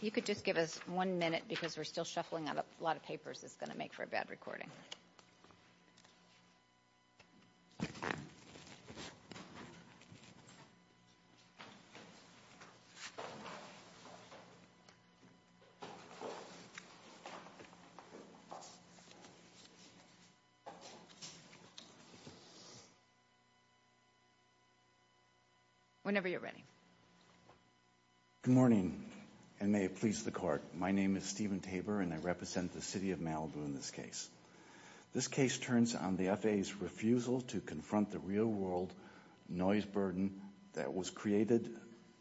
You could just give us one minute because we're still shuffling out a lot of papers it's going to make for a bad recording. Whenever you're ready. Good morning and may it please the court. My name is Stephen Tabor and I represent the city of Malibu in this case. This case turns on the FAA's refusal to confront the real world noise burden that was created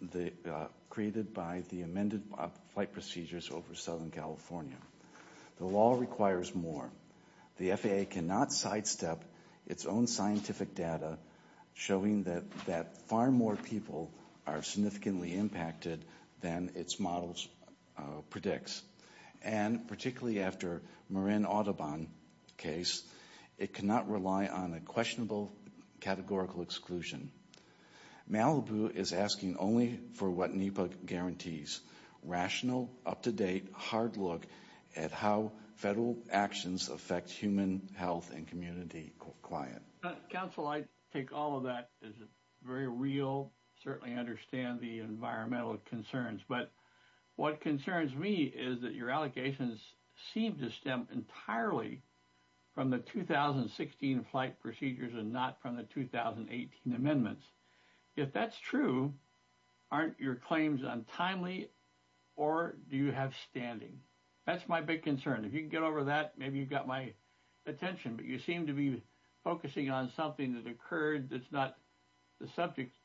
by the amended flight procedures over Southern California. The law requires more. The FAA cannot sidestep its own scientific data showing that far more people are significantly impacted than its models predicts. And particularly after Marin Audubon case, it cannot rely on a questionable categorical exclusion. Malibu is asking only for what NEPA guarantees. Rational, up-to-date, hard look at how federal actions affect human health and community client. Counsel, I take all of that as very real, certainly understand the environmental concerns. But what concerns me is that your allegations seem to stem entirely from the 2016 flight procedures and not from the 2018 amendments. If that's true, aren't your claims untimely or do you have standing? That's my big concern. If you can get over that, maybe you've got my attention. But you seem to be focusing on something that occurred that's not the subject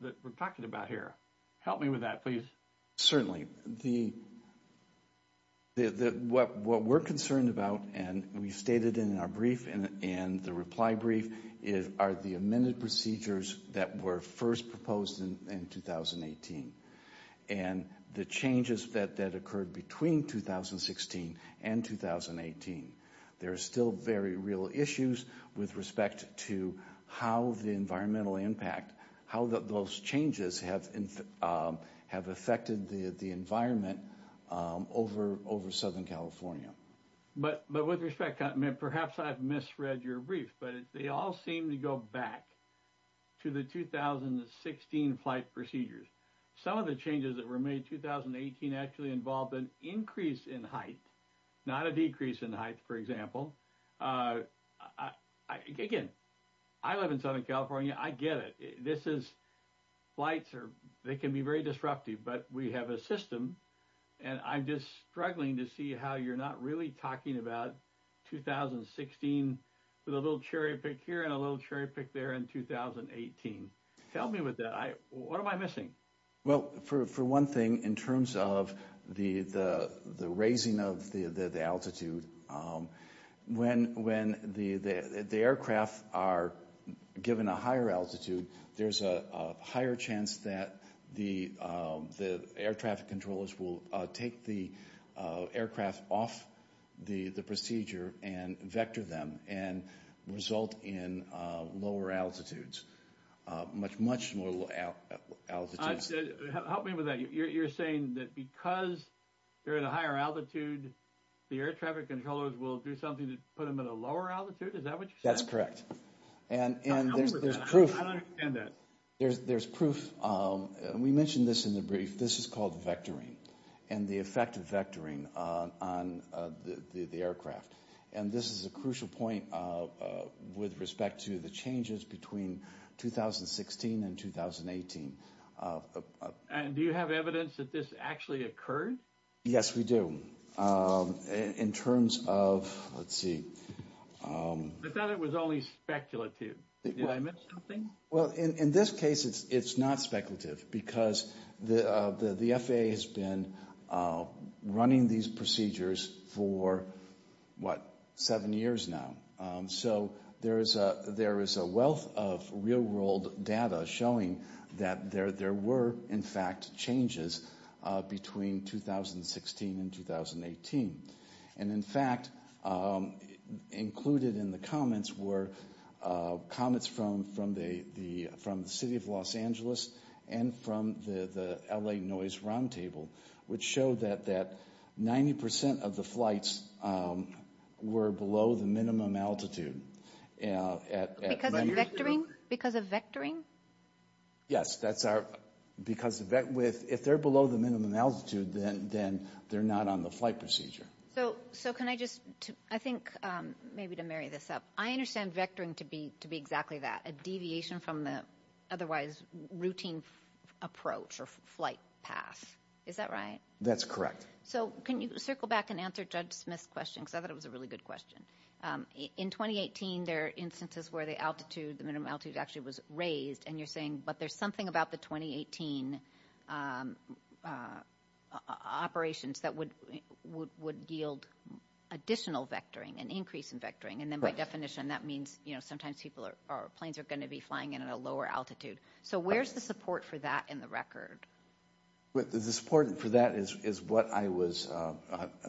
that we're talking about here. Help me with that, please. Certainly. What we're concerned about and we stated in our brief and the reply brief are the amended procedures that were first proposed in 2018. And the changes that occurred between 2016 and 2018. There are still very real issues with respect to how the environmental impact, how those changes have affected the environment over Southern California. But with respect, perhaps I've misread your brief, but they all seem to go back to the 2016 flight procedures. Some of the changes that were made in 2018 actually involved an increase in height, not a decrease in height, for example. Again, I live in Southern California. I get it. Flights can be very disruptive, but we have a system and I'm just struggling to see how you're not really talking about 2016 with a little cherry pick here and a little cherry pick there in 2018. Help me with that. What am I missing? Well, for one thing, in terms of the raising of the altitude, when the aircraft are given a higher altitude, there's a higher chance that the air traffic controllers will take the aircraft off the procedure and vector them and result in lower altitudes. Much, much lower altitudes. Help me with that. You're saying that because they're at a higher altitude, the air traffic controllers will do something to put them at a lower altitude? Is that what you're saying? That's correct. And there's proof. I don't understand that. There's proof. We mentioned this in the brief. This is called vectoring and the effect of vectoring on the aircraft. And this is a crucial point with respect to the changes between 2016 and 2018. And do you have evidence that this actually occurred? Yes, we do. In terms of, let's see. I thought it was only speculative. Did I miss something? Well, in this case, it's not speculative because the FAA has been running these procedures for, what, seven years now. So there is a wealth of real world data showing that there were, in fact, changes between 2016 and 2018. And, in fact, included in the comments were comments from the City of Los Angeles and from the LA Noise Roundtable, which showed that 90% of the flights were below the minimum altitude. Because of vectoring? Yes, because if they're below the minimum altitude, then they're not on the flight procedure. So can I just, I think, maybe to marry this up, I understand vectoring to be exactly that, a deviation from the otherwise routine approach or flight path. Is that right? That's correct. So can you circle back and answer Judge Smith's question? Because I thought it was a really good question. In 2018, there are instances where the altitude, the minimum altitude actually was raised. And you're saying, but there's something about the 2018 operations that would yield additional vectoring, an increase in vectoring. And then by definition, that means, you know, sometimes people are, planes are going to be flying in at a lower altitude. So where's the support for that in the record? The support for that is what I was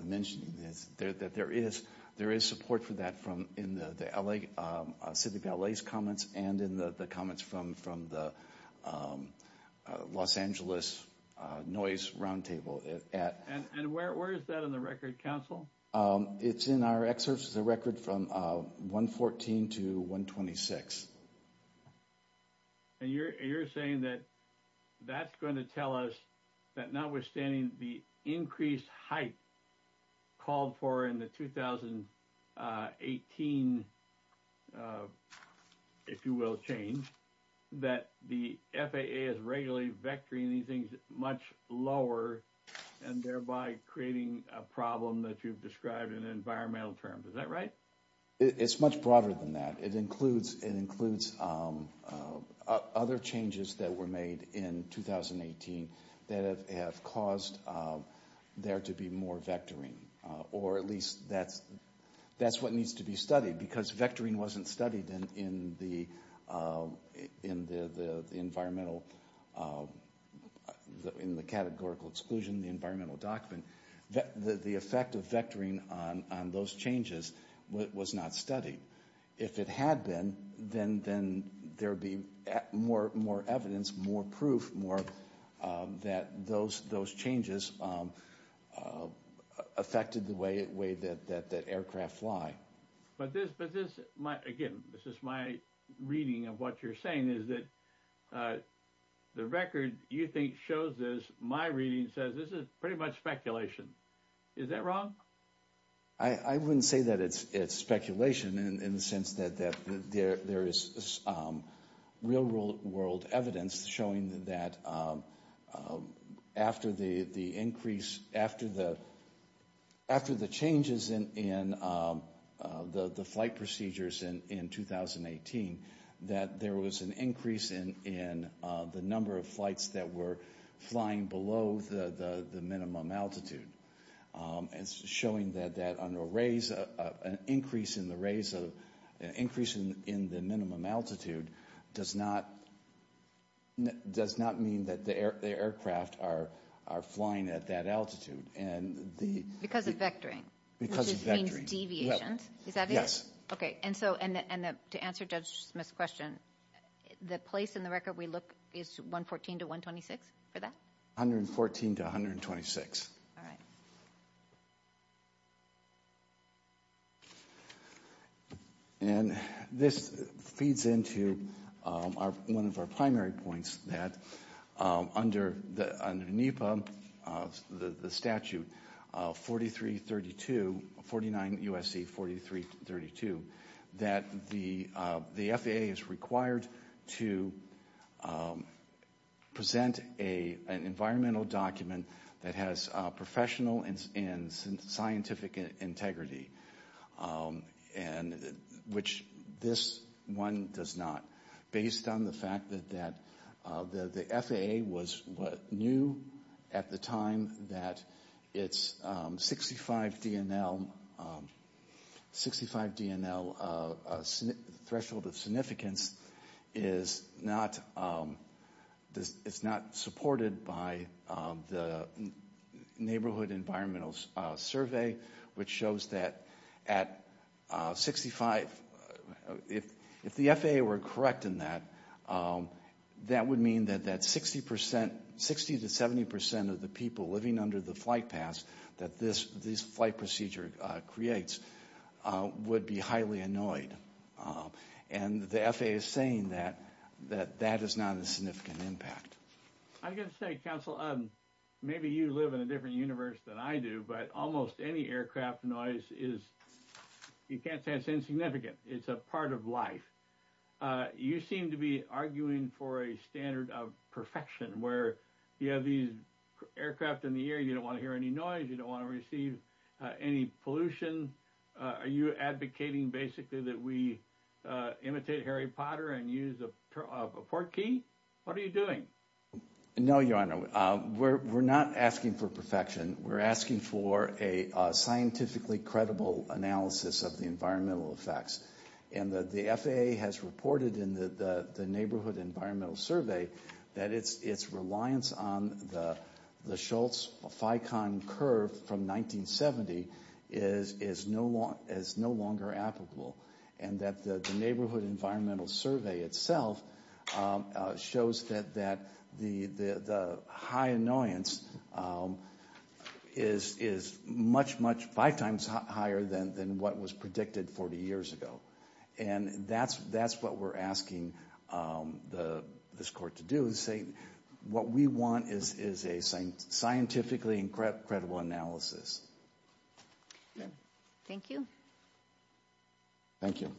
mentioning. There is support for that in the City of LA's comments and in the comments from the Los Angeles Noise Roundtable. And where is that in the record, counsel? It's in our excerpts. It's a record from 114 to 126. And you're saying that that's going to tell us that notwithstanding the increased height called for in the 2018, if you will, change, that the FAA is regularly vectoring these things much lower and thereby creating a problem that you've described in environmental terms. Is that right? It's much broader than that. It includes other changes that were made in 2018 that have caused there to be more vectoring. Or at least that's what needs to be studied because vectoring wasn't studied in the environmental, in the categorical exclusion, the environmental document. The effect of vectoring on those changes was not studied. If it had been, then there would be more evidence, more proof, more that those changes affected the way that aircraft fly. But this, again, this is my reading of what you're saying, is that the record you think shows this, my reading says this is pretty much speculation. Is that wrong? I wouldn't say that it's speculation in the sense that there is real world evidence showing that after the increase, after the changes in the flight procedures in 2018, that there was an increase in the number of flights that were flying below the minimum altitude. It's showing that an increase in the minimum altitude does not mean that the aircraft are flying at that altitude. Because of vectoring? Because of vectoring. Which means deviations, is that it? Yes. Okay, and to answer Judge Smith's question, the place in the record we look is 114 to 126 for that? 114 to 126. All right. And this feeds into one of our primary points, that under NEPA, the statute 4332, 49 U.S.C. 4332, that the FAA is required to present an environmental document that has professional and scientific integrity, which this one does not. Based on the fact that the FAA knew at the time that its 65 DNL threshold of significance is not supported by the Neighborhood Environmental Survey, which shows that at 65, if the FAA were correct in that, that would mean that 60 to 70% of the people living under the flight path that this flight procedure creates would be highly annoyed. And the FAA is saying that that is not a significant impact. I'm going to say, counsel, maybe you live in a different universe than I do, but almost any aircraft noise is, you can't say it's insignificant. It's a part of life. You seem to be arguing for a standard of perfection, where you have these aircraft in the air, you don't want to hear any noise, you don't want to receive any pollution. Are you advocating basically that we imitate Harry Potter and use a portkey? What are you doing? No, Your Honor, we're not asking for perfection. We're asking for a scientifically credible analysis of the environmental effects. And the FAA has reported in the Neighborhood Environmental Survey that its reliance on the Schultz-Ficon curve from 1970 is no longer applicable. And that the Neighborhood Environmental Survey itself shows that the high annoyance is much, much five times higher than what was predicted 40 years ago. And that's what we're asking this court to do, is say what we want is a scientifically credible analysis. Thank you. Thank you.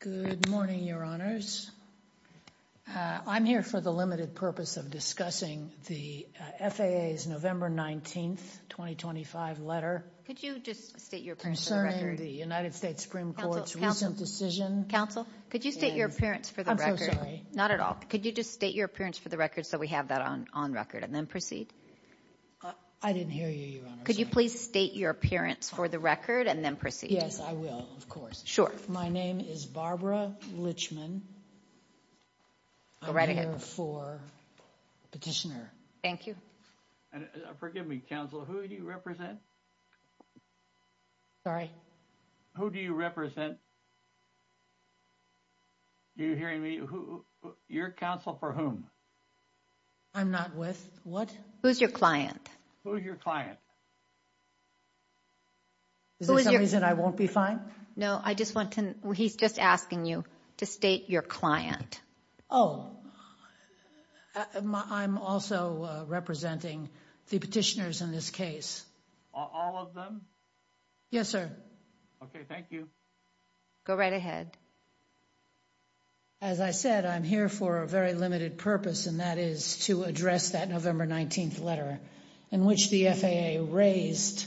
Good morning, Your Honors. I'm here for the limited purpose of discussing the FAA's November 19th, 2025 letter concerning the United States Supreme Court's recent decision. Counsel, could you state your appearance for the record? I'm so sorry. Not at all. Could you just state your appearance for the record so we have that on record and then proceed? I didn't hear you, Your Honor. Could you please state your appearance for the record and then proceed? Yes, I will, of course. Sure. My name is Barbara Litchman. Go right ahead. I'm here for petitioner. Thank you. Forgive me, counsel, who do you represent? Sorry? Who do you represent? Do you hear me? You're counsel for whom? I'm not with what? Who's your client? Who's your client? Is there some reason I won't be fined? No, he's just asking you to state your client. Oh, I'm also representing the petitioners in this case. All of them? Yes, sir. Okay, thank you. Go right ahead. As I said, I'm here for a very limited purpose, and that is to address that November 19th letter in which the FAA raised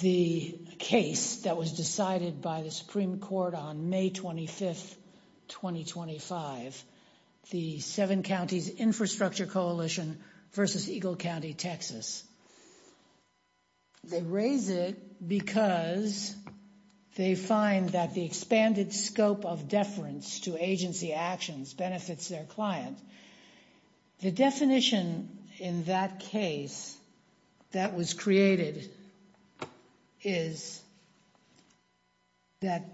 the case that was decided by the Supreme Court on May 25th, 2025, the Seven Counties Infrastructure Coalition versus Eagle County, Texas. They raise it because they find that the expanded scope of deference to agency actions benefits their client. The definition in that case that was created is that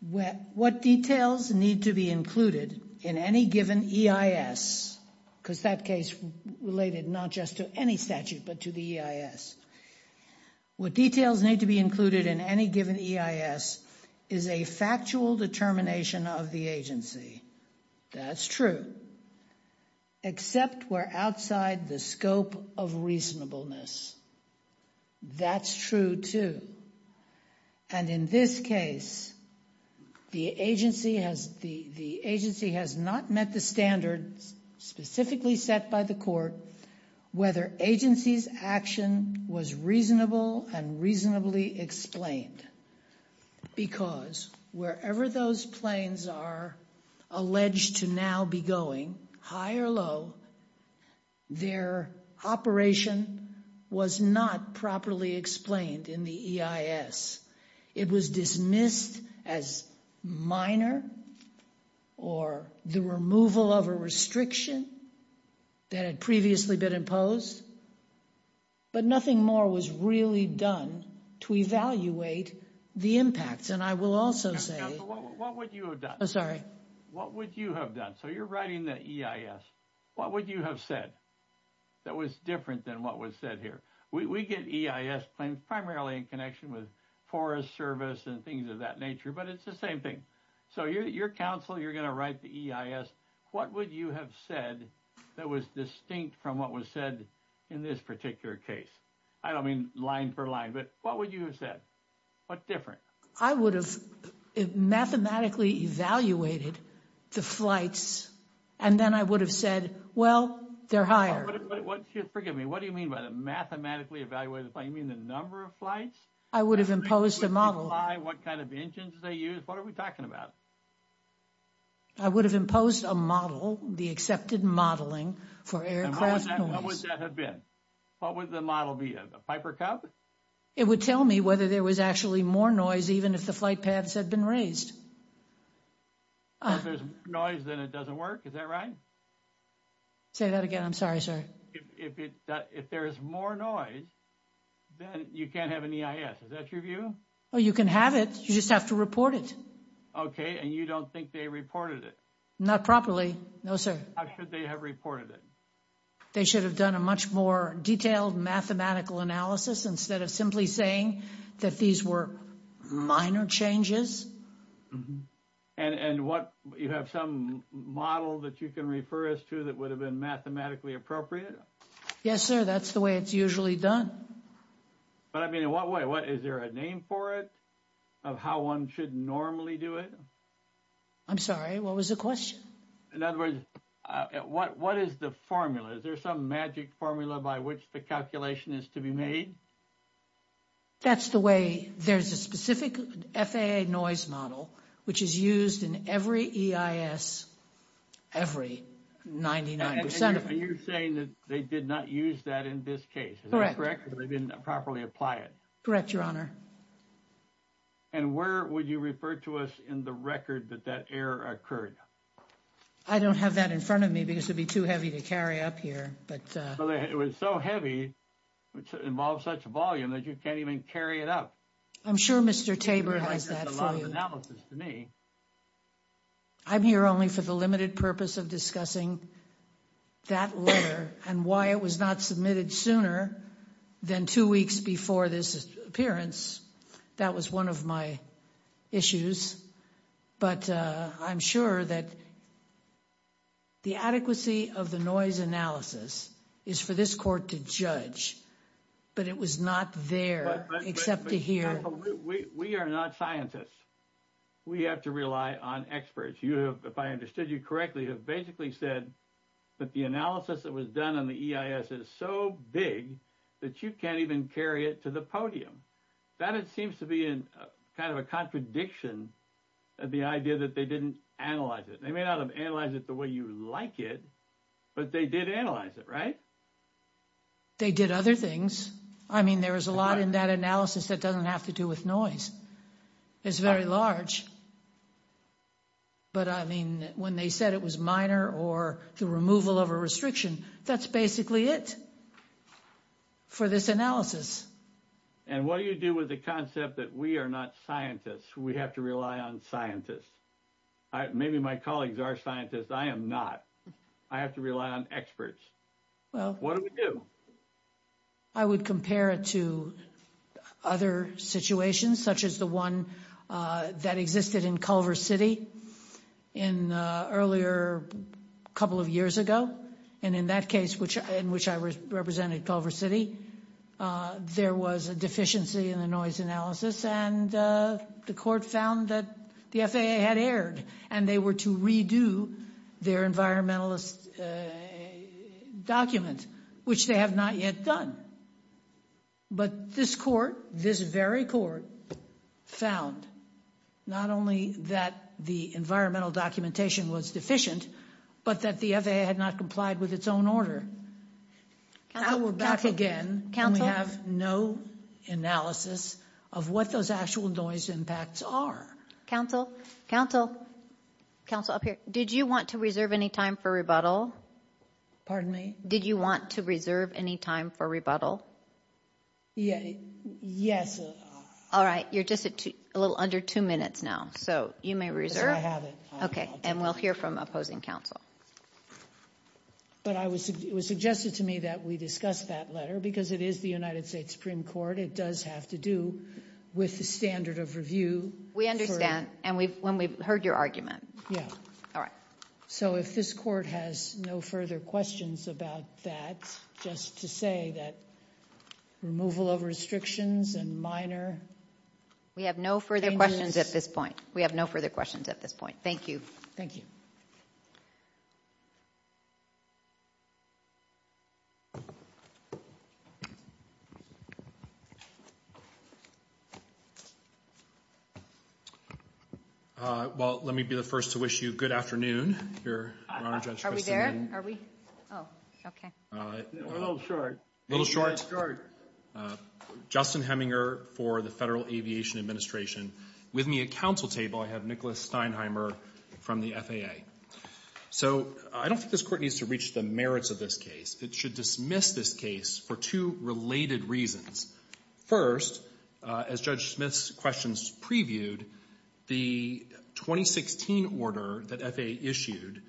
what details need to be included in any given EIS, because that case related not just to any statute but to the EIS, what details need to be included in any given EIS is a factual determination of the agency. That's true. Except we're outside the scope of reasonableness. That's true, too. And in this case, the agency has not met the standards specifically set by the court whether agency's action was reasonable and reasonably explained. Because wherever those planes are alleged to now be going, high or low, their operation was not properly explained in the EIS. It was dismissed as minor or the removal of a restriction that had previously been imposed. But nothing more was really done to evaluate the impacts. And I will also say... What would you have done? Sorry. What would you have done? So you're writing the EIS. What would you have said that was different than what was said here? We get EIS planes primarily in connection with Forest Service and things of that nature, but it's the same thing. So your counsel, you're going to write the EIS. What would you have said that was distinct from what was said in this particular case? I don't mean line for line, but what would you have said? What's different? I would have mathematically evaluated the flights, and then I would have said, well, they're higher. Forgive me. What do you mean by the mathematically evaluated? You mean the number of flights? I would have imposed a model. What kind of engines they use? What are we talking about? I would have imposed a model, the accepted modeling for aircraft noise. And what would that have been? What would the model be, a Piper Cub? It would tell me whether there was actually more noise, even if the flight paths had been raised. If there's noise, then it doesn't work. Is that right? Say that again. I'm sorry, sir. If there is more noise, then you can't have an EIS. Is that your view? Well, you can have it. You just have to report it. Okay, and you don't think they reported it? Not properly, no, sir. How should they have reported it? They should have done a much more detailed mathematical analysis instead of simply saying that these were minor changes. And you have some model that you can refer us to that would have been mathematically appropriate? Yes, sir. That's the way it's usually done. But I mean, in what way? Is there a name for it of how one should normally do it? I'm sorry, what was the question? In other words, what is the formula? Is there some magic formula by which the calculation is to be made? That's the way there's a specific FAA noise model, which is used in every EIS, every 99%. And you're saying that they did not use that in this case. They didn't properly apply it. Correct, Your Honor. And where would you refer to us in the record that that error occurred? I don't have that in front of me because it would be too heavy to carry up here. But it was so heavy, which involves such volume that you can't even carry it up. I'm sure Mr. Tabor has that analysis to me. I'm here only for the limited purpose of discussing that letter and why it was not submitted sooner than two weeks before this appearance. That was one of my issues. But I'm sure that the adequacy of the noise analysis is for this court to judge. But it was not there except to hear. We are not scientists. We have to rely on experts. You have, if I understood you correctly, have basically said that the analysis that was done on the EIS is so big that you can't even carry it to the podium. That seems to be in kind of a contradiction of the idea that they didn't analyze it. They may not have analyzed it the way you like it, but they did analyze it, right? They did other things. I mean, there is a lot in that analysis that doesn't have to do with noise. It's very large. But I mean, when they said it was minor or the removal of a restriction, that's basically it for this analysis. And what do you do with the concept that we are not scientists? We have to rely on scientists. Maybe my colleagues are scientists. I am not. I have to rely on experts. What do we do? I would compare it to other situations, such as the one that existed in Culver City earlier a couple of years ago. And in that case, in which I represented Culver City, there was a deficiency in the noise analysis. And the court found that the FAA had erred, and they were to redo their environmentalist document, which they have not yet done. But this court, this very court, found not only that the environmental documentation was deficient, but that the FAA had not complied with its own order. Now we're back again, and we have no analysis of what those actual noise impacts are. Counsel? Counsel? Counsel, up here. Did you want to reserve any time for rebuttal? Pardon me? Did you want to reserve any time for rebuttal? Yes. All right. You're just a little under two minutes now, so you may reserve. I have it. Okay. And we'll hear from opposing counsel. But it was suggested to me that we discuss that letter, because it is the United States Supreme Court. It does have to do with the standard of review. We understand, and we've heard your argument. Yeah. All right. So if this court has no further questions about that, just to say that removal of restrictions and minor changes— We have no further questions at this point. We have no further questions at this point. Thank you. Thank you. Well, let me be the first to wish you good afternoon, Your Honor, Judge Christinian. Are we there? Are we? Oh, okay. A little short. A little short? A little short. Justin Heminger for the Federal Aviation Administration. With me at counsel table, I have Nicholas Steinheimer from the FAA. So I don't think this court needs to reach the merits of this case. It should dismiss this case for two related reasons. First, as Judge Smith's questions previewed, the 2016 order that FAA issued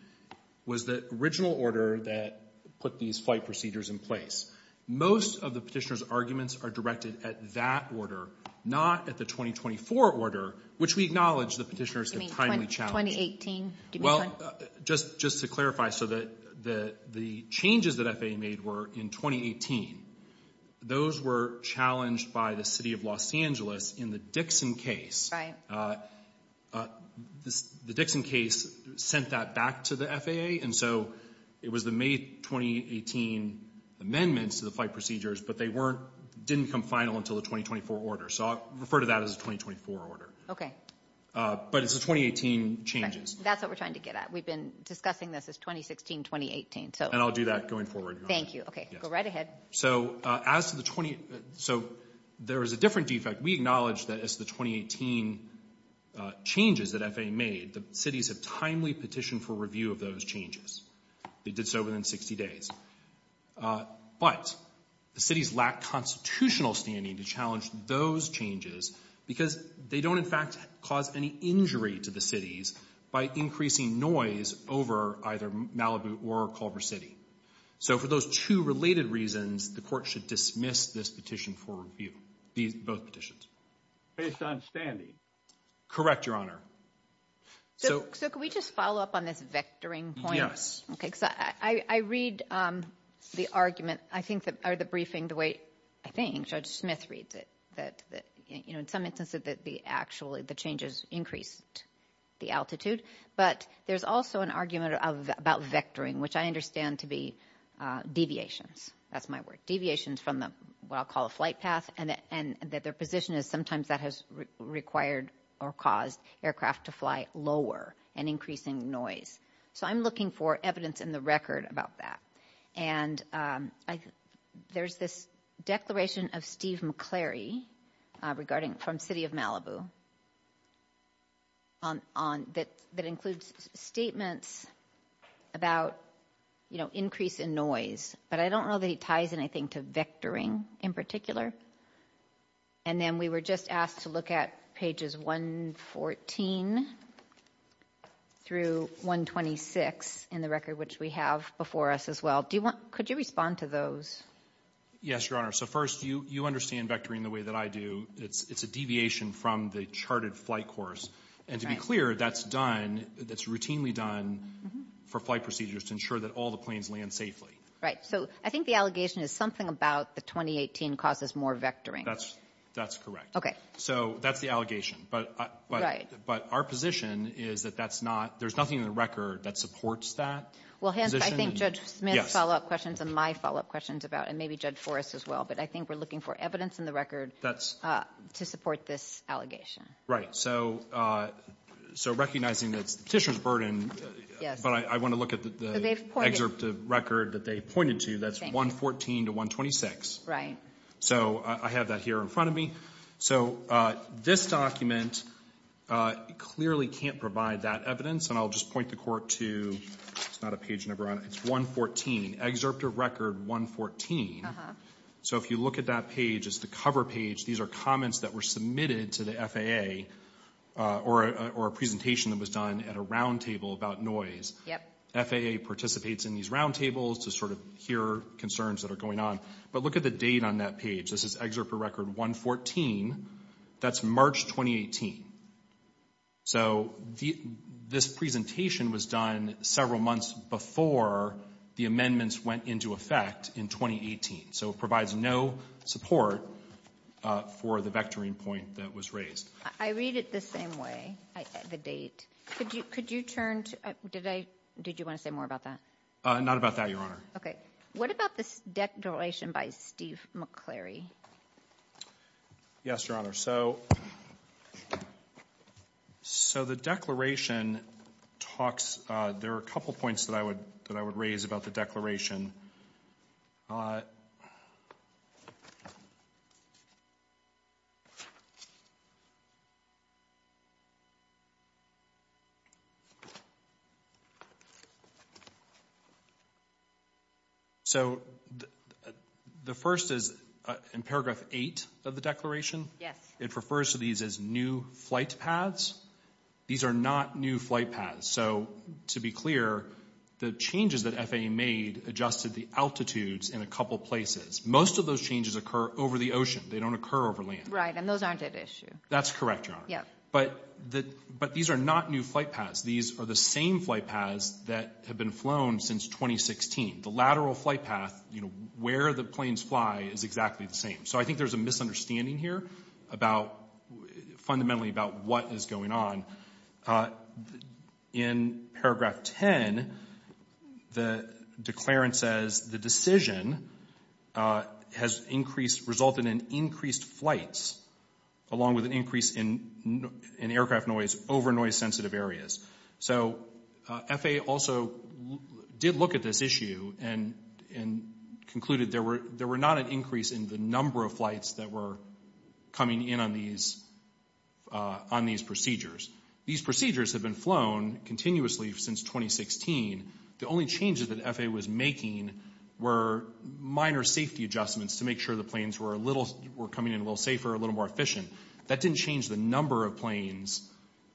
was the original order that put these flight procedures in place. Most of the petitioner's arguments are directed at that order, not at the 2024 order, which we acknowledge the petitioners have timely challenged. In 2018? Well, just to clarify, so the changes that FAA made were in 2018. Those were challenged by the city of Los Angeles in the Dixon case. Right. The Dixon case sent that back to the FAA, and so it was the May 2018 amendments to the flight procedures, but they didn't become final until the 2024 order. So I'll refer to that as the 2024 order. Okay. But it's the 2018 changes. That's what we're trying to get at. We've been discussing this as 2016-2018, so. And I'll do that going forward. Thank you. Okay, go right ahead. So as to the 20, so there is a different defect. We acknowledge that as the 2018 changes that FAA made, the cities have timely petitioned for review of those changes. They did so within 60 days. But the cities lack constitutional standing to challenge those changes because they don't, in fact, cause any injury to the cities by increasing noise over either Malibu or Culver City. So for those two related reasons, the court should dismiss this petition for review, both petitions. Based on standing? Correct, Your Honor. So could we just follow up on this vectoring point? Yes. Okay, because I read the argument, I think, or the briefing the way I think Judge Smith reads it. That, you know, in some instances that the actually the changes increased the altitude. But there's also an argument about vectoring, which I understand to be deviations. That's my word. Deviations from what I'll call a flight path and that their position is sometimes that has required or caused aircraft to fly lower and increasing noise. So I'm looking for evidence in the record about that. And there's this declaration of Steve McCleary regarding from city of Malibu. On that, that includes statements about, you know, increase in noise, but I don't know that he ties in, I think, to vectoring in particular. And then we were just asked to look at pages 114 through 126 in the record, which we have before us as well. Could you respond to those? Yes, Your Honor. So first, you understand vectoring the way that I do. It's a deviation from the charted flight course. And to be clear, that's done, that's routinely done for flight procedures to ensure that all the planes land safely. Right. So I think the allegation is something about the 2018 causes more vectoring. That's correct. So that's the allegation. Right. But our position is that that's not, there's nothing in the record that supports that position. Well, hence, I think Judge Smith's follow-up questions and my follow-up questions about, and maybe Judge Forrest as well, but I think we're looking for evidence in the record to support this allegation. Right. So recognizing that it's the petitioner's burden, but I want to look at the excerpt of record that they pointed to. That's 114 to 126. Right. So I have that here in front of me. So this document clearly can't provide that evidence. And I'll just point the Court to, it's not a page number, it's 114, excerpt of record 114. So if you look at that page, it's the cover page. These are comments that were submitted to the FAA or a presentation that was done at a roundtable about noise. FAA participates in these roundtables to sort of hear concerns that are going on. But look at the date on that page. This is excerpt of record 114. That's March 2018. So this presentation was done several months before the amendments went into effect in 2018. So it provides no support for the vectoring point that was raised. I read it the same way, the date. Could you turn to – did I – did you want to say more about that? Not about that, Your Honor. Okay. What about this declaration by Steve McCleary? Yes, Your Honor. So the declaration talks – there are a couple points that I would raise about the declaration. So the first is in paragraph 8 of the declaration. Yes. It refers to these as new flight paths. These are not new flight paths. So to be clear, the changes that FAA made adjusted the altitudes in a couple places. Most of those changes occur over the ocean. They don't occur over land. Right, and those aren't at issue. That's correct, Your Honor. Yeah. But these are not new flight paths. These are the same flight paths that have been flown since 2016. The lateral flight path, you know, where the planes fly is exactly the same. So I think there's a misunderstanding here about – fundamentally about what is going on. In paragraph 10, the declarant says the decision has increased – resulted in increased flights along with an increase in aircraft noise over noise-sensitive areas. So FAA also did look at this issue and concluded there were not an increase in the number of flights that were coming in on these procedures. These procedures have been flown continuously since 2016. The only changes that FAA was making were minor safety adjustments to make sure the planes were a little – were coming in a little safer, a little more efficient. That didn't change the number of planes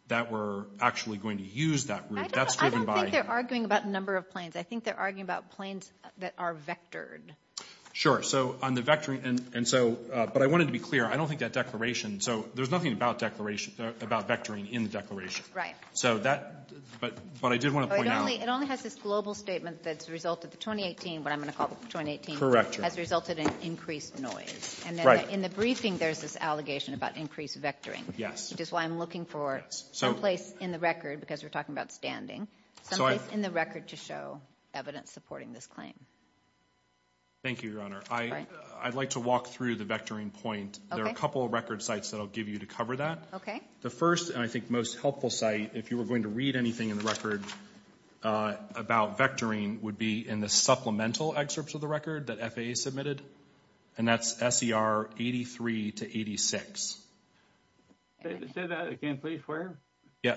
that were actually going to use that route. That's driven by – I don't think they're arguing about the number of planes. I think they're arguing about planes that are vectored. Sure. So on the vectoring – and so – but I wanted to be clear. I don't think that declaration – so there's nothing about vectoring in the declaration. Right. So that – but I did want to point out – It only has this global statement that's resulted – the 2018, what I'm going to call the 2018 – Correct, Your Honor. – has resulted in increased noise. Right. In the briefing, there's this allegation about increased vectoring. Which is why I'm looking for some place in the record, because we're talking about standing, some place in the record to show evidence supporting this claim. Thank you, Your Honor. I'd like to walk through the vectoring point. Okay. There are a couple of record sites that I'll give you to cover that. Okay. The first, and I think most helpful site, if you were going to read anything in the record about vectoring, would be in the supplemental excerpts of the record that FAA submitted, and that's SER 83 to 86. Say that again, please. Where? Yeah.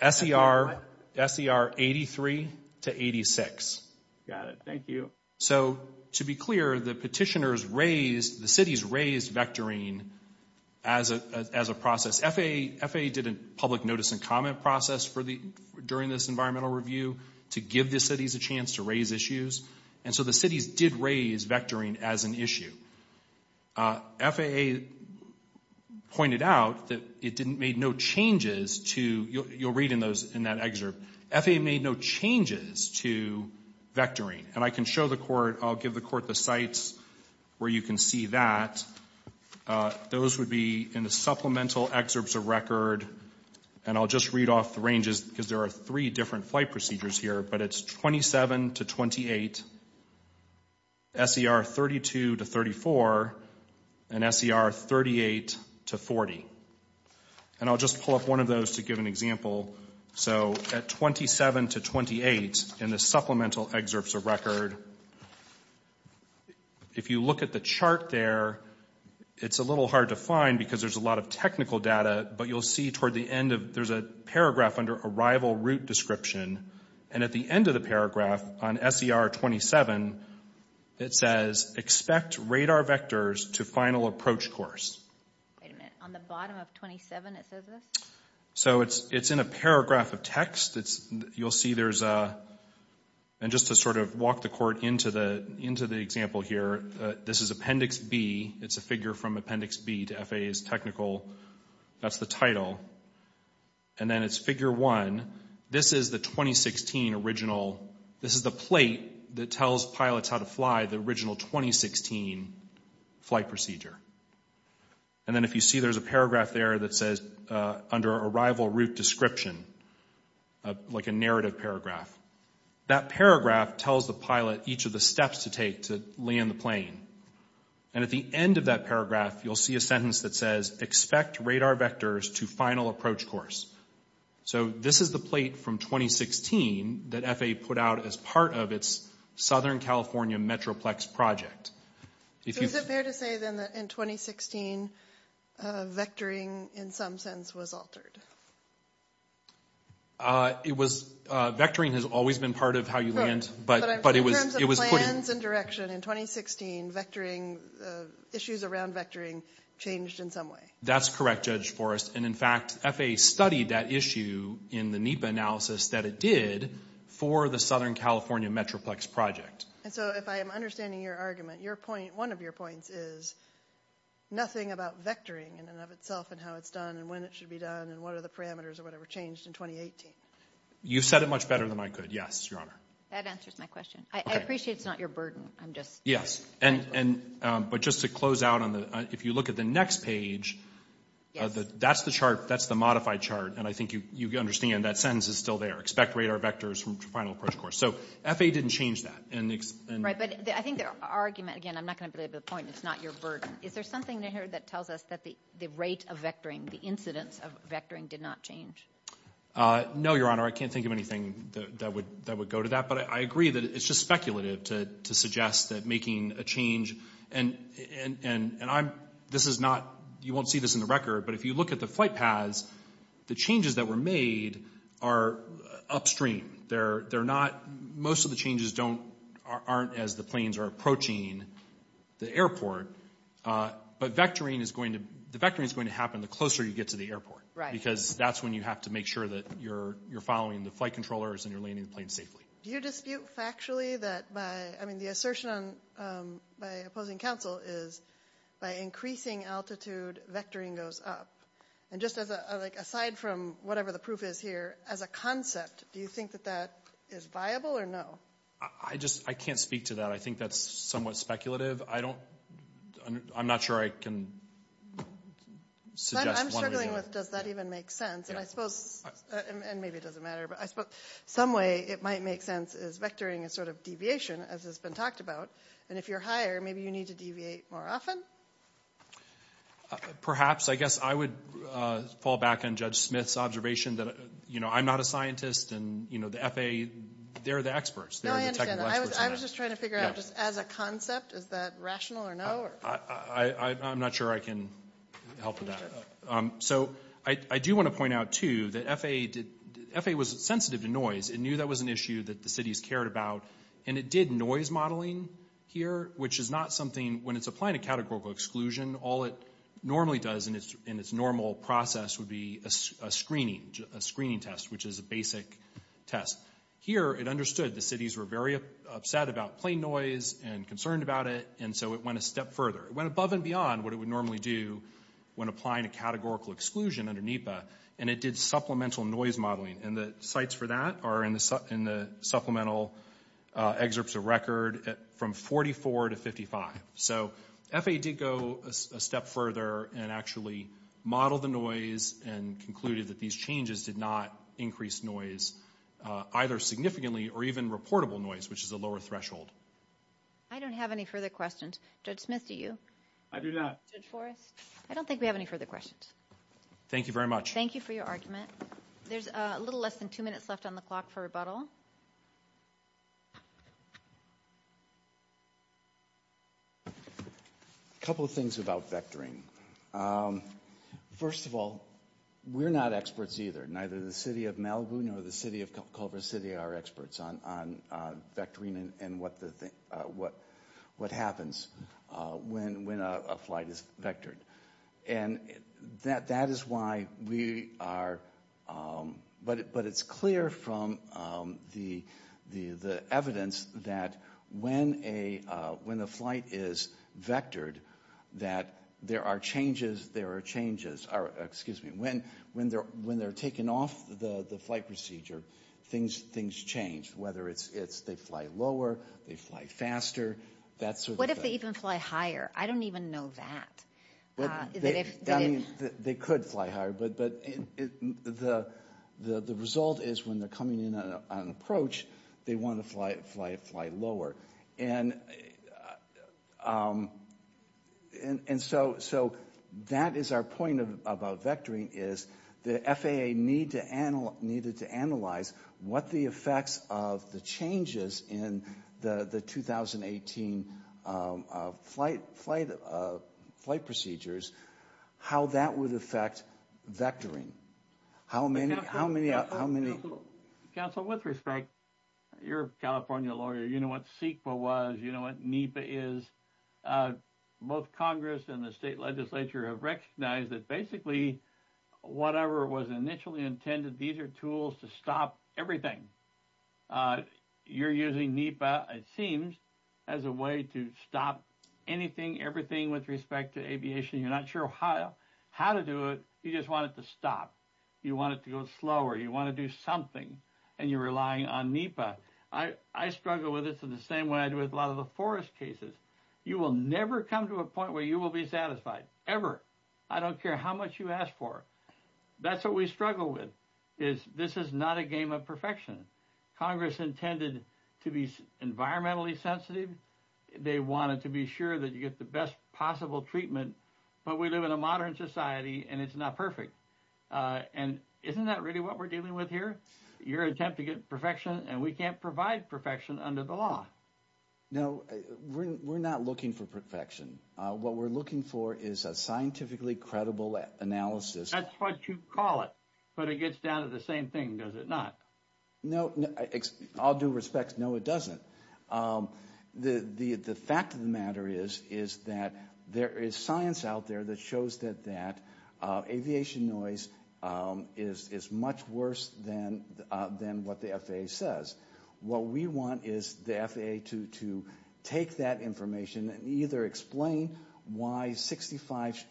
What? SER 83 to 86. Got it. Thank you. So, to be clear, the petitioners raised – the cities raised vectoring as a process. FAA did a public notice and comment process during this environmental review to give the cities a chance to raise issues. And so the cities did raise vectoring as an issue. FAA pointed out that it made no changes to – you'll read in that excerpt – FAA made no changes to vectoring. And I can show the court – I'll give the court the sites where you can see that. Those would be in the supplemental excerpts of record. And I'll just read off the ranges, because there are three different flight procedures here, but it's 27 to 28, SER 32 to 34, and SER 38 to 40. And I'll just pull up one of those to give an example. So, at 27 to 28 in the supplemental excerpts of record, if you look at the chart there, it's a little hard to find, because there's a lot of technical data, but you'll see toward the end of – there's a paragraph under arrival route description, and at the end of the paragraph on SER 27, it says, expect radar vectors to final approach course. Wait a minute. On the bottom of 27 it says this? So, it's in a paragraph of text. You'll see there's a – and just to sort of walk the court into the example here, this is Appendix B. It's a figure from Appendix B to FAA's technical – that's the title. And then it's Figure 1. This is the 2016 original – this is the plate that tells pilots how to fly the original 2016 flight procedure. And then if you see, there's a paragraph there that says, under arrival route description, like a narrative paragraph. That paragraph tells the pilot each of the steps to take to land the plane. And at the end of that paragraph, you'll see a sentence that says, expect radar vectors to final approach course. So, this is the plate from 2016 that FAA put out as part of its Southern California Metroplex project. Is it fair to say, then, that in 2016, vectoring, in some sense, was altered? It was – vectoring has always been part of how you land, but it was – That's correct, Judge Forrest. And in fact, FAA studied that issue in the NEPA analysis that it did for the Southern California Metroplex project. And so, if I am understanding your argument, your point – one of your points is, nothing about vectoring in and of itself and how it's done and when it should be done and what are the parameters or whatever changed in 2018. You said it much better than I could, yes, Your Honor. That answers my question. I appreciate it's not your burden. I'm just – Yes. And – but just to close out on the – if you look at the next page, that's the chart – that's the modified chart. And I think you understand that sentence is still there. Expect radar vectors from final approach course. So, FAA didn't change that. Right. But I think the argument – again, I'm not going to belabor the point. It's not your burden. Is there something in here that tells us that the rate of vectoring, the incidence of vectoring, did not change? No, Your Honor. I can't think of anything that would go to that. But I agree that it's just speculative to suggest that making a change – and I'm – this is not – you won't see this in the record. But if you look at the flight paths, the changes that were made are upstream. They're not – most of the changes don't – aren't as the planes are approaching the airport. But vectoring is going to – the vectoring is going to happen the closer you get to the airport. Right. Because that's when you have to make sure that you're following the flight controllers and you're landing the plane safely. Do you dispute factually that by – I mean, the assertion by opposing counsel is by increasing altitude, vectoring goes up. And just as a – like, aside from whatever the proof is here, as a concept, do you think that that is viable or no? I just – I can't speak to that. I think that's somewhat speculative. I don't – I'm not sure I can suggest one way or another. I'm struggling with does that even make sense. And I suppose – and maybe it doesn't matter. But I suppose some way it might make sense is vectoring is sort of deviation, as has been talked about. And if you're higher, maybe you need to deviate more often. Perhaps. I guess I would fall back on Judge Smith's observation that, you know, I'm not a scientist and, you know, the FAA, they're the experts. They're the technical experts on that. I was just trying to figure out just as a concept, is that rational or no? I'm not sure I can help with that. So I do want to point out, too, that FAA did – FAA was sensitive to noise. It knew that was an issue that the cities cared about, and it did noise modeling here, which is not something – when it's applying a categorical exclusion, all it normally does in its normal process would be a screening test, which is a basic test. Here it understood the cities were very upset about plane noise and concerned about it, and so it went a step further. It went above and beyond what it would normally do when applying a categorical exclusion under NEPA, and it did supplemental noise modeling. And the sites for that are in the supplemental excerpts of record from 44 to 55. So FAA did go a step further and actually modeled the noise and concluded that these changes did not increase noise either significantly or even reportable noise, which is a lower threshold. I don't have any further questions. Judge Smith, do you? I do not. I don't think we have any further questions. Thank you very much. Thank you for your argument. There's a little less than two minutes left on the clock for rebuttal. A couple of things about vectoring. First of all, we're not experts either. Neither the City of Malibu nor the City of Culver City are experts on vectoring and what happens when a flight is vectored. And that is why we are, but it's clear from the evidence that when a flight is vectored, that there are changes, there are changes, or excuse me, when they're taken off the flight procedure, things change, whether it's they fly lower, they fly faster, that sort of thing. What if they even fly higher? I don't even know that. They could fly higher, but the result is when they're coming in on an approach, they want to fly lower. And so that is our point about vectoring, is the FAA needed to analyze what the effects of the changes in the 2018 flight procedures, how that would affect vectoring. How many... Council, with respect, you're a California lawyer. You know what CEQA was. You know what NEPA is. Both Congress and the state legislature have recognized that basically whatever was initially intended, these are tools to stop everything. You're using NEPA, it seems, as a way to stop anything, everything with respect to aviation. You're not sure how to do it. You just want it to stop. You want it to go slower. You want to do something, and you're relying on NEPA. I struggle with this in the same way I do with a lot of the forest cases. You will never come to a point where you will be satisfied, ever. I don't care how much you ask for. That's what we struggle with, is this is not a game of perfection. Congress intended to be environmentally sensitive. They wanted to be sure that you get the best possible treatment. But we live in a modern society, and it's not perfect. Isn't that really what we're dealing with here? You're attempting perfection, and we can't provide perfection under the law. No, we're not looking for perfection. What we're looking for is a scientifically credible analysis. That's what you call it. But it gets down to the same thing, does it not? No, all due respect, no, it doesn't. The fact of the matter is that there is science out there that shows that aviation noise is much worse than what the FAA says. What we want is the FAA to take that information and either explain why 65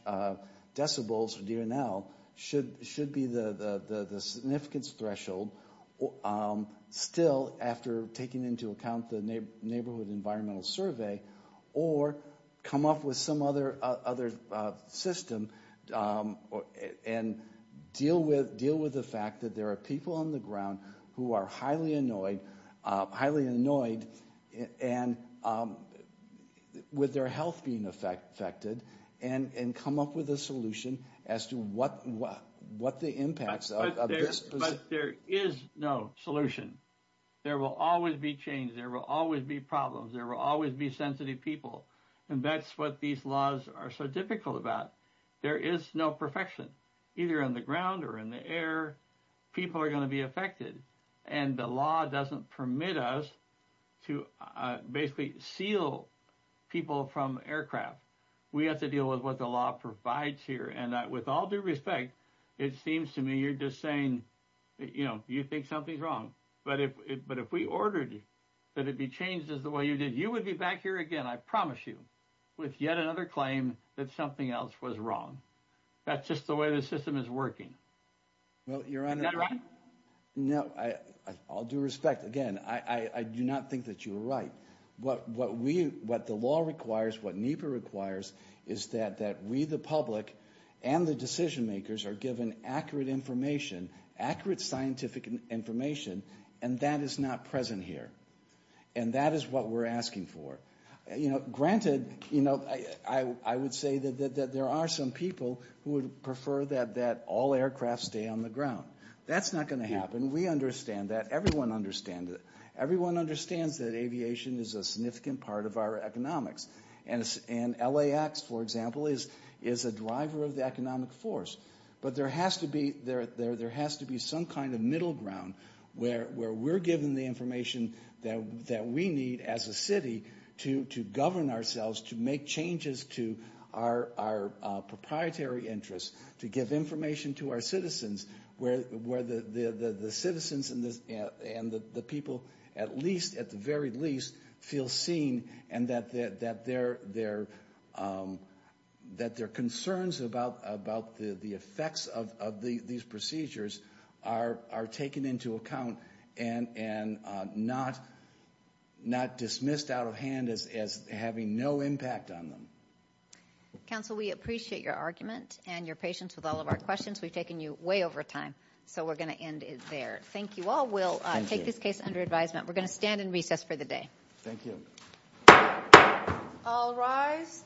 decibels, or DNL, should be the significance threshold, still after taking into account the Neighborhood Environmental Survey, or come up with some other system and deal with the fact that there are people on the ground who are highly annoyed with their health being affected and come up with a solution as to what the impacts of this. But there is no solution. There will always be change, there will always be problems, there will always be sensitive people. And that's what these laws are so difficult about. There is no perfection. Either on the ground or in the air, people are going to be affected. And the law doesn't permit us to basically seal people from aircraft. We have to deal with what the law provides here. And with all due respect, it seems to me you're just saying, you know, you think something's wrong. But if we ordered that it be changed as the way you did, you would be back here again, I promise you, with yet another claim that something else was wrong. That's just the way the system is working. Is that right? No, all due respect, again, I do not think that you're right. What the law requires, what NEPA requires, is that we the public and the decision makers are given accurate information, accurate scientific information, and that is not present here. And that is what we're asking for. Granted, I would say that there are some people who would prefer that all aircraft stay on the ground. That's not going to happen. We understand that. Everyone understands that. Everyone understands that aviation is a significant part of our economics. And LAX, for example, is a driver of the economic force. But there has to be some kind of middle ground where we're given the information that we need as a city to govern ourselves, to make changes to our proprietary interests, to give information to our citizens, where the citizens and the people at least, at the very least, feel seen and that their concerns about the effects of these procedures are taken into account and not dismissed out of hand as having no impact on them. Council, we appreciate your argument and your patience with all of our questions. We've taken you way over time, so we're going to end it there. Thank you all. We'll take this case under advisement. We're going to stand and recess for the day. Thank you. I'll rise.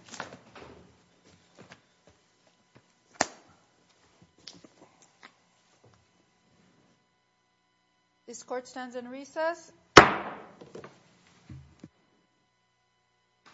This court stands in recess.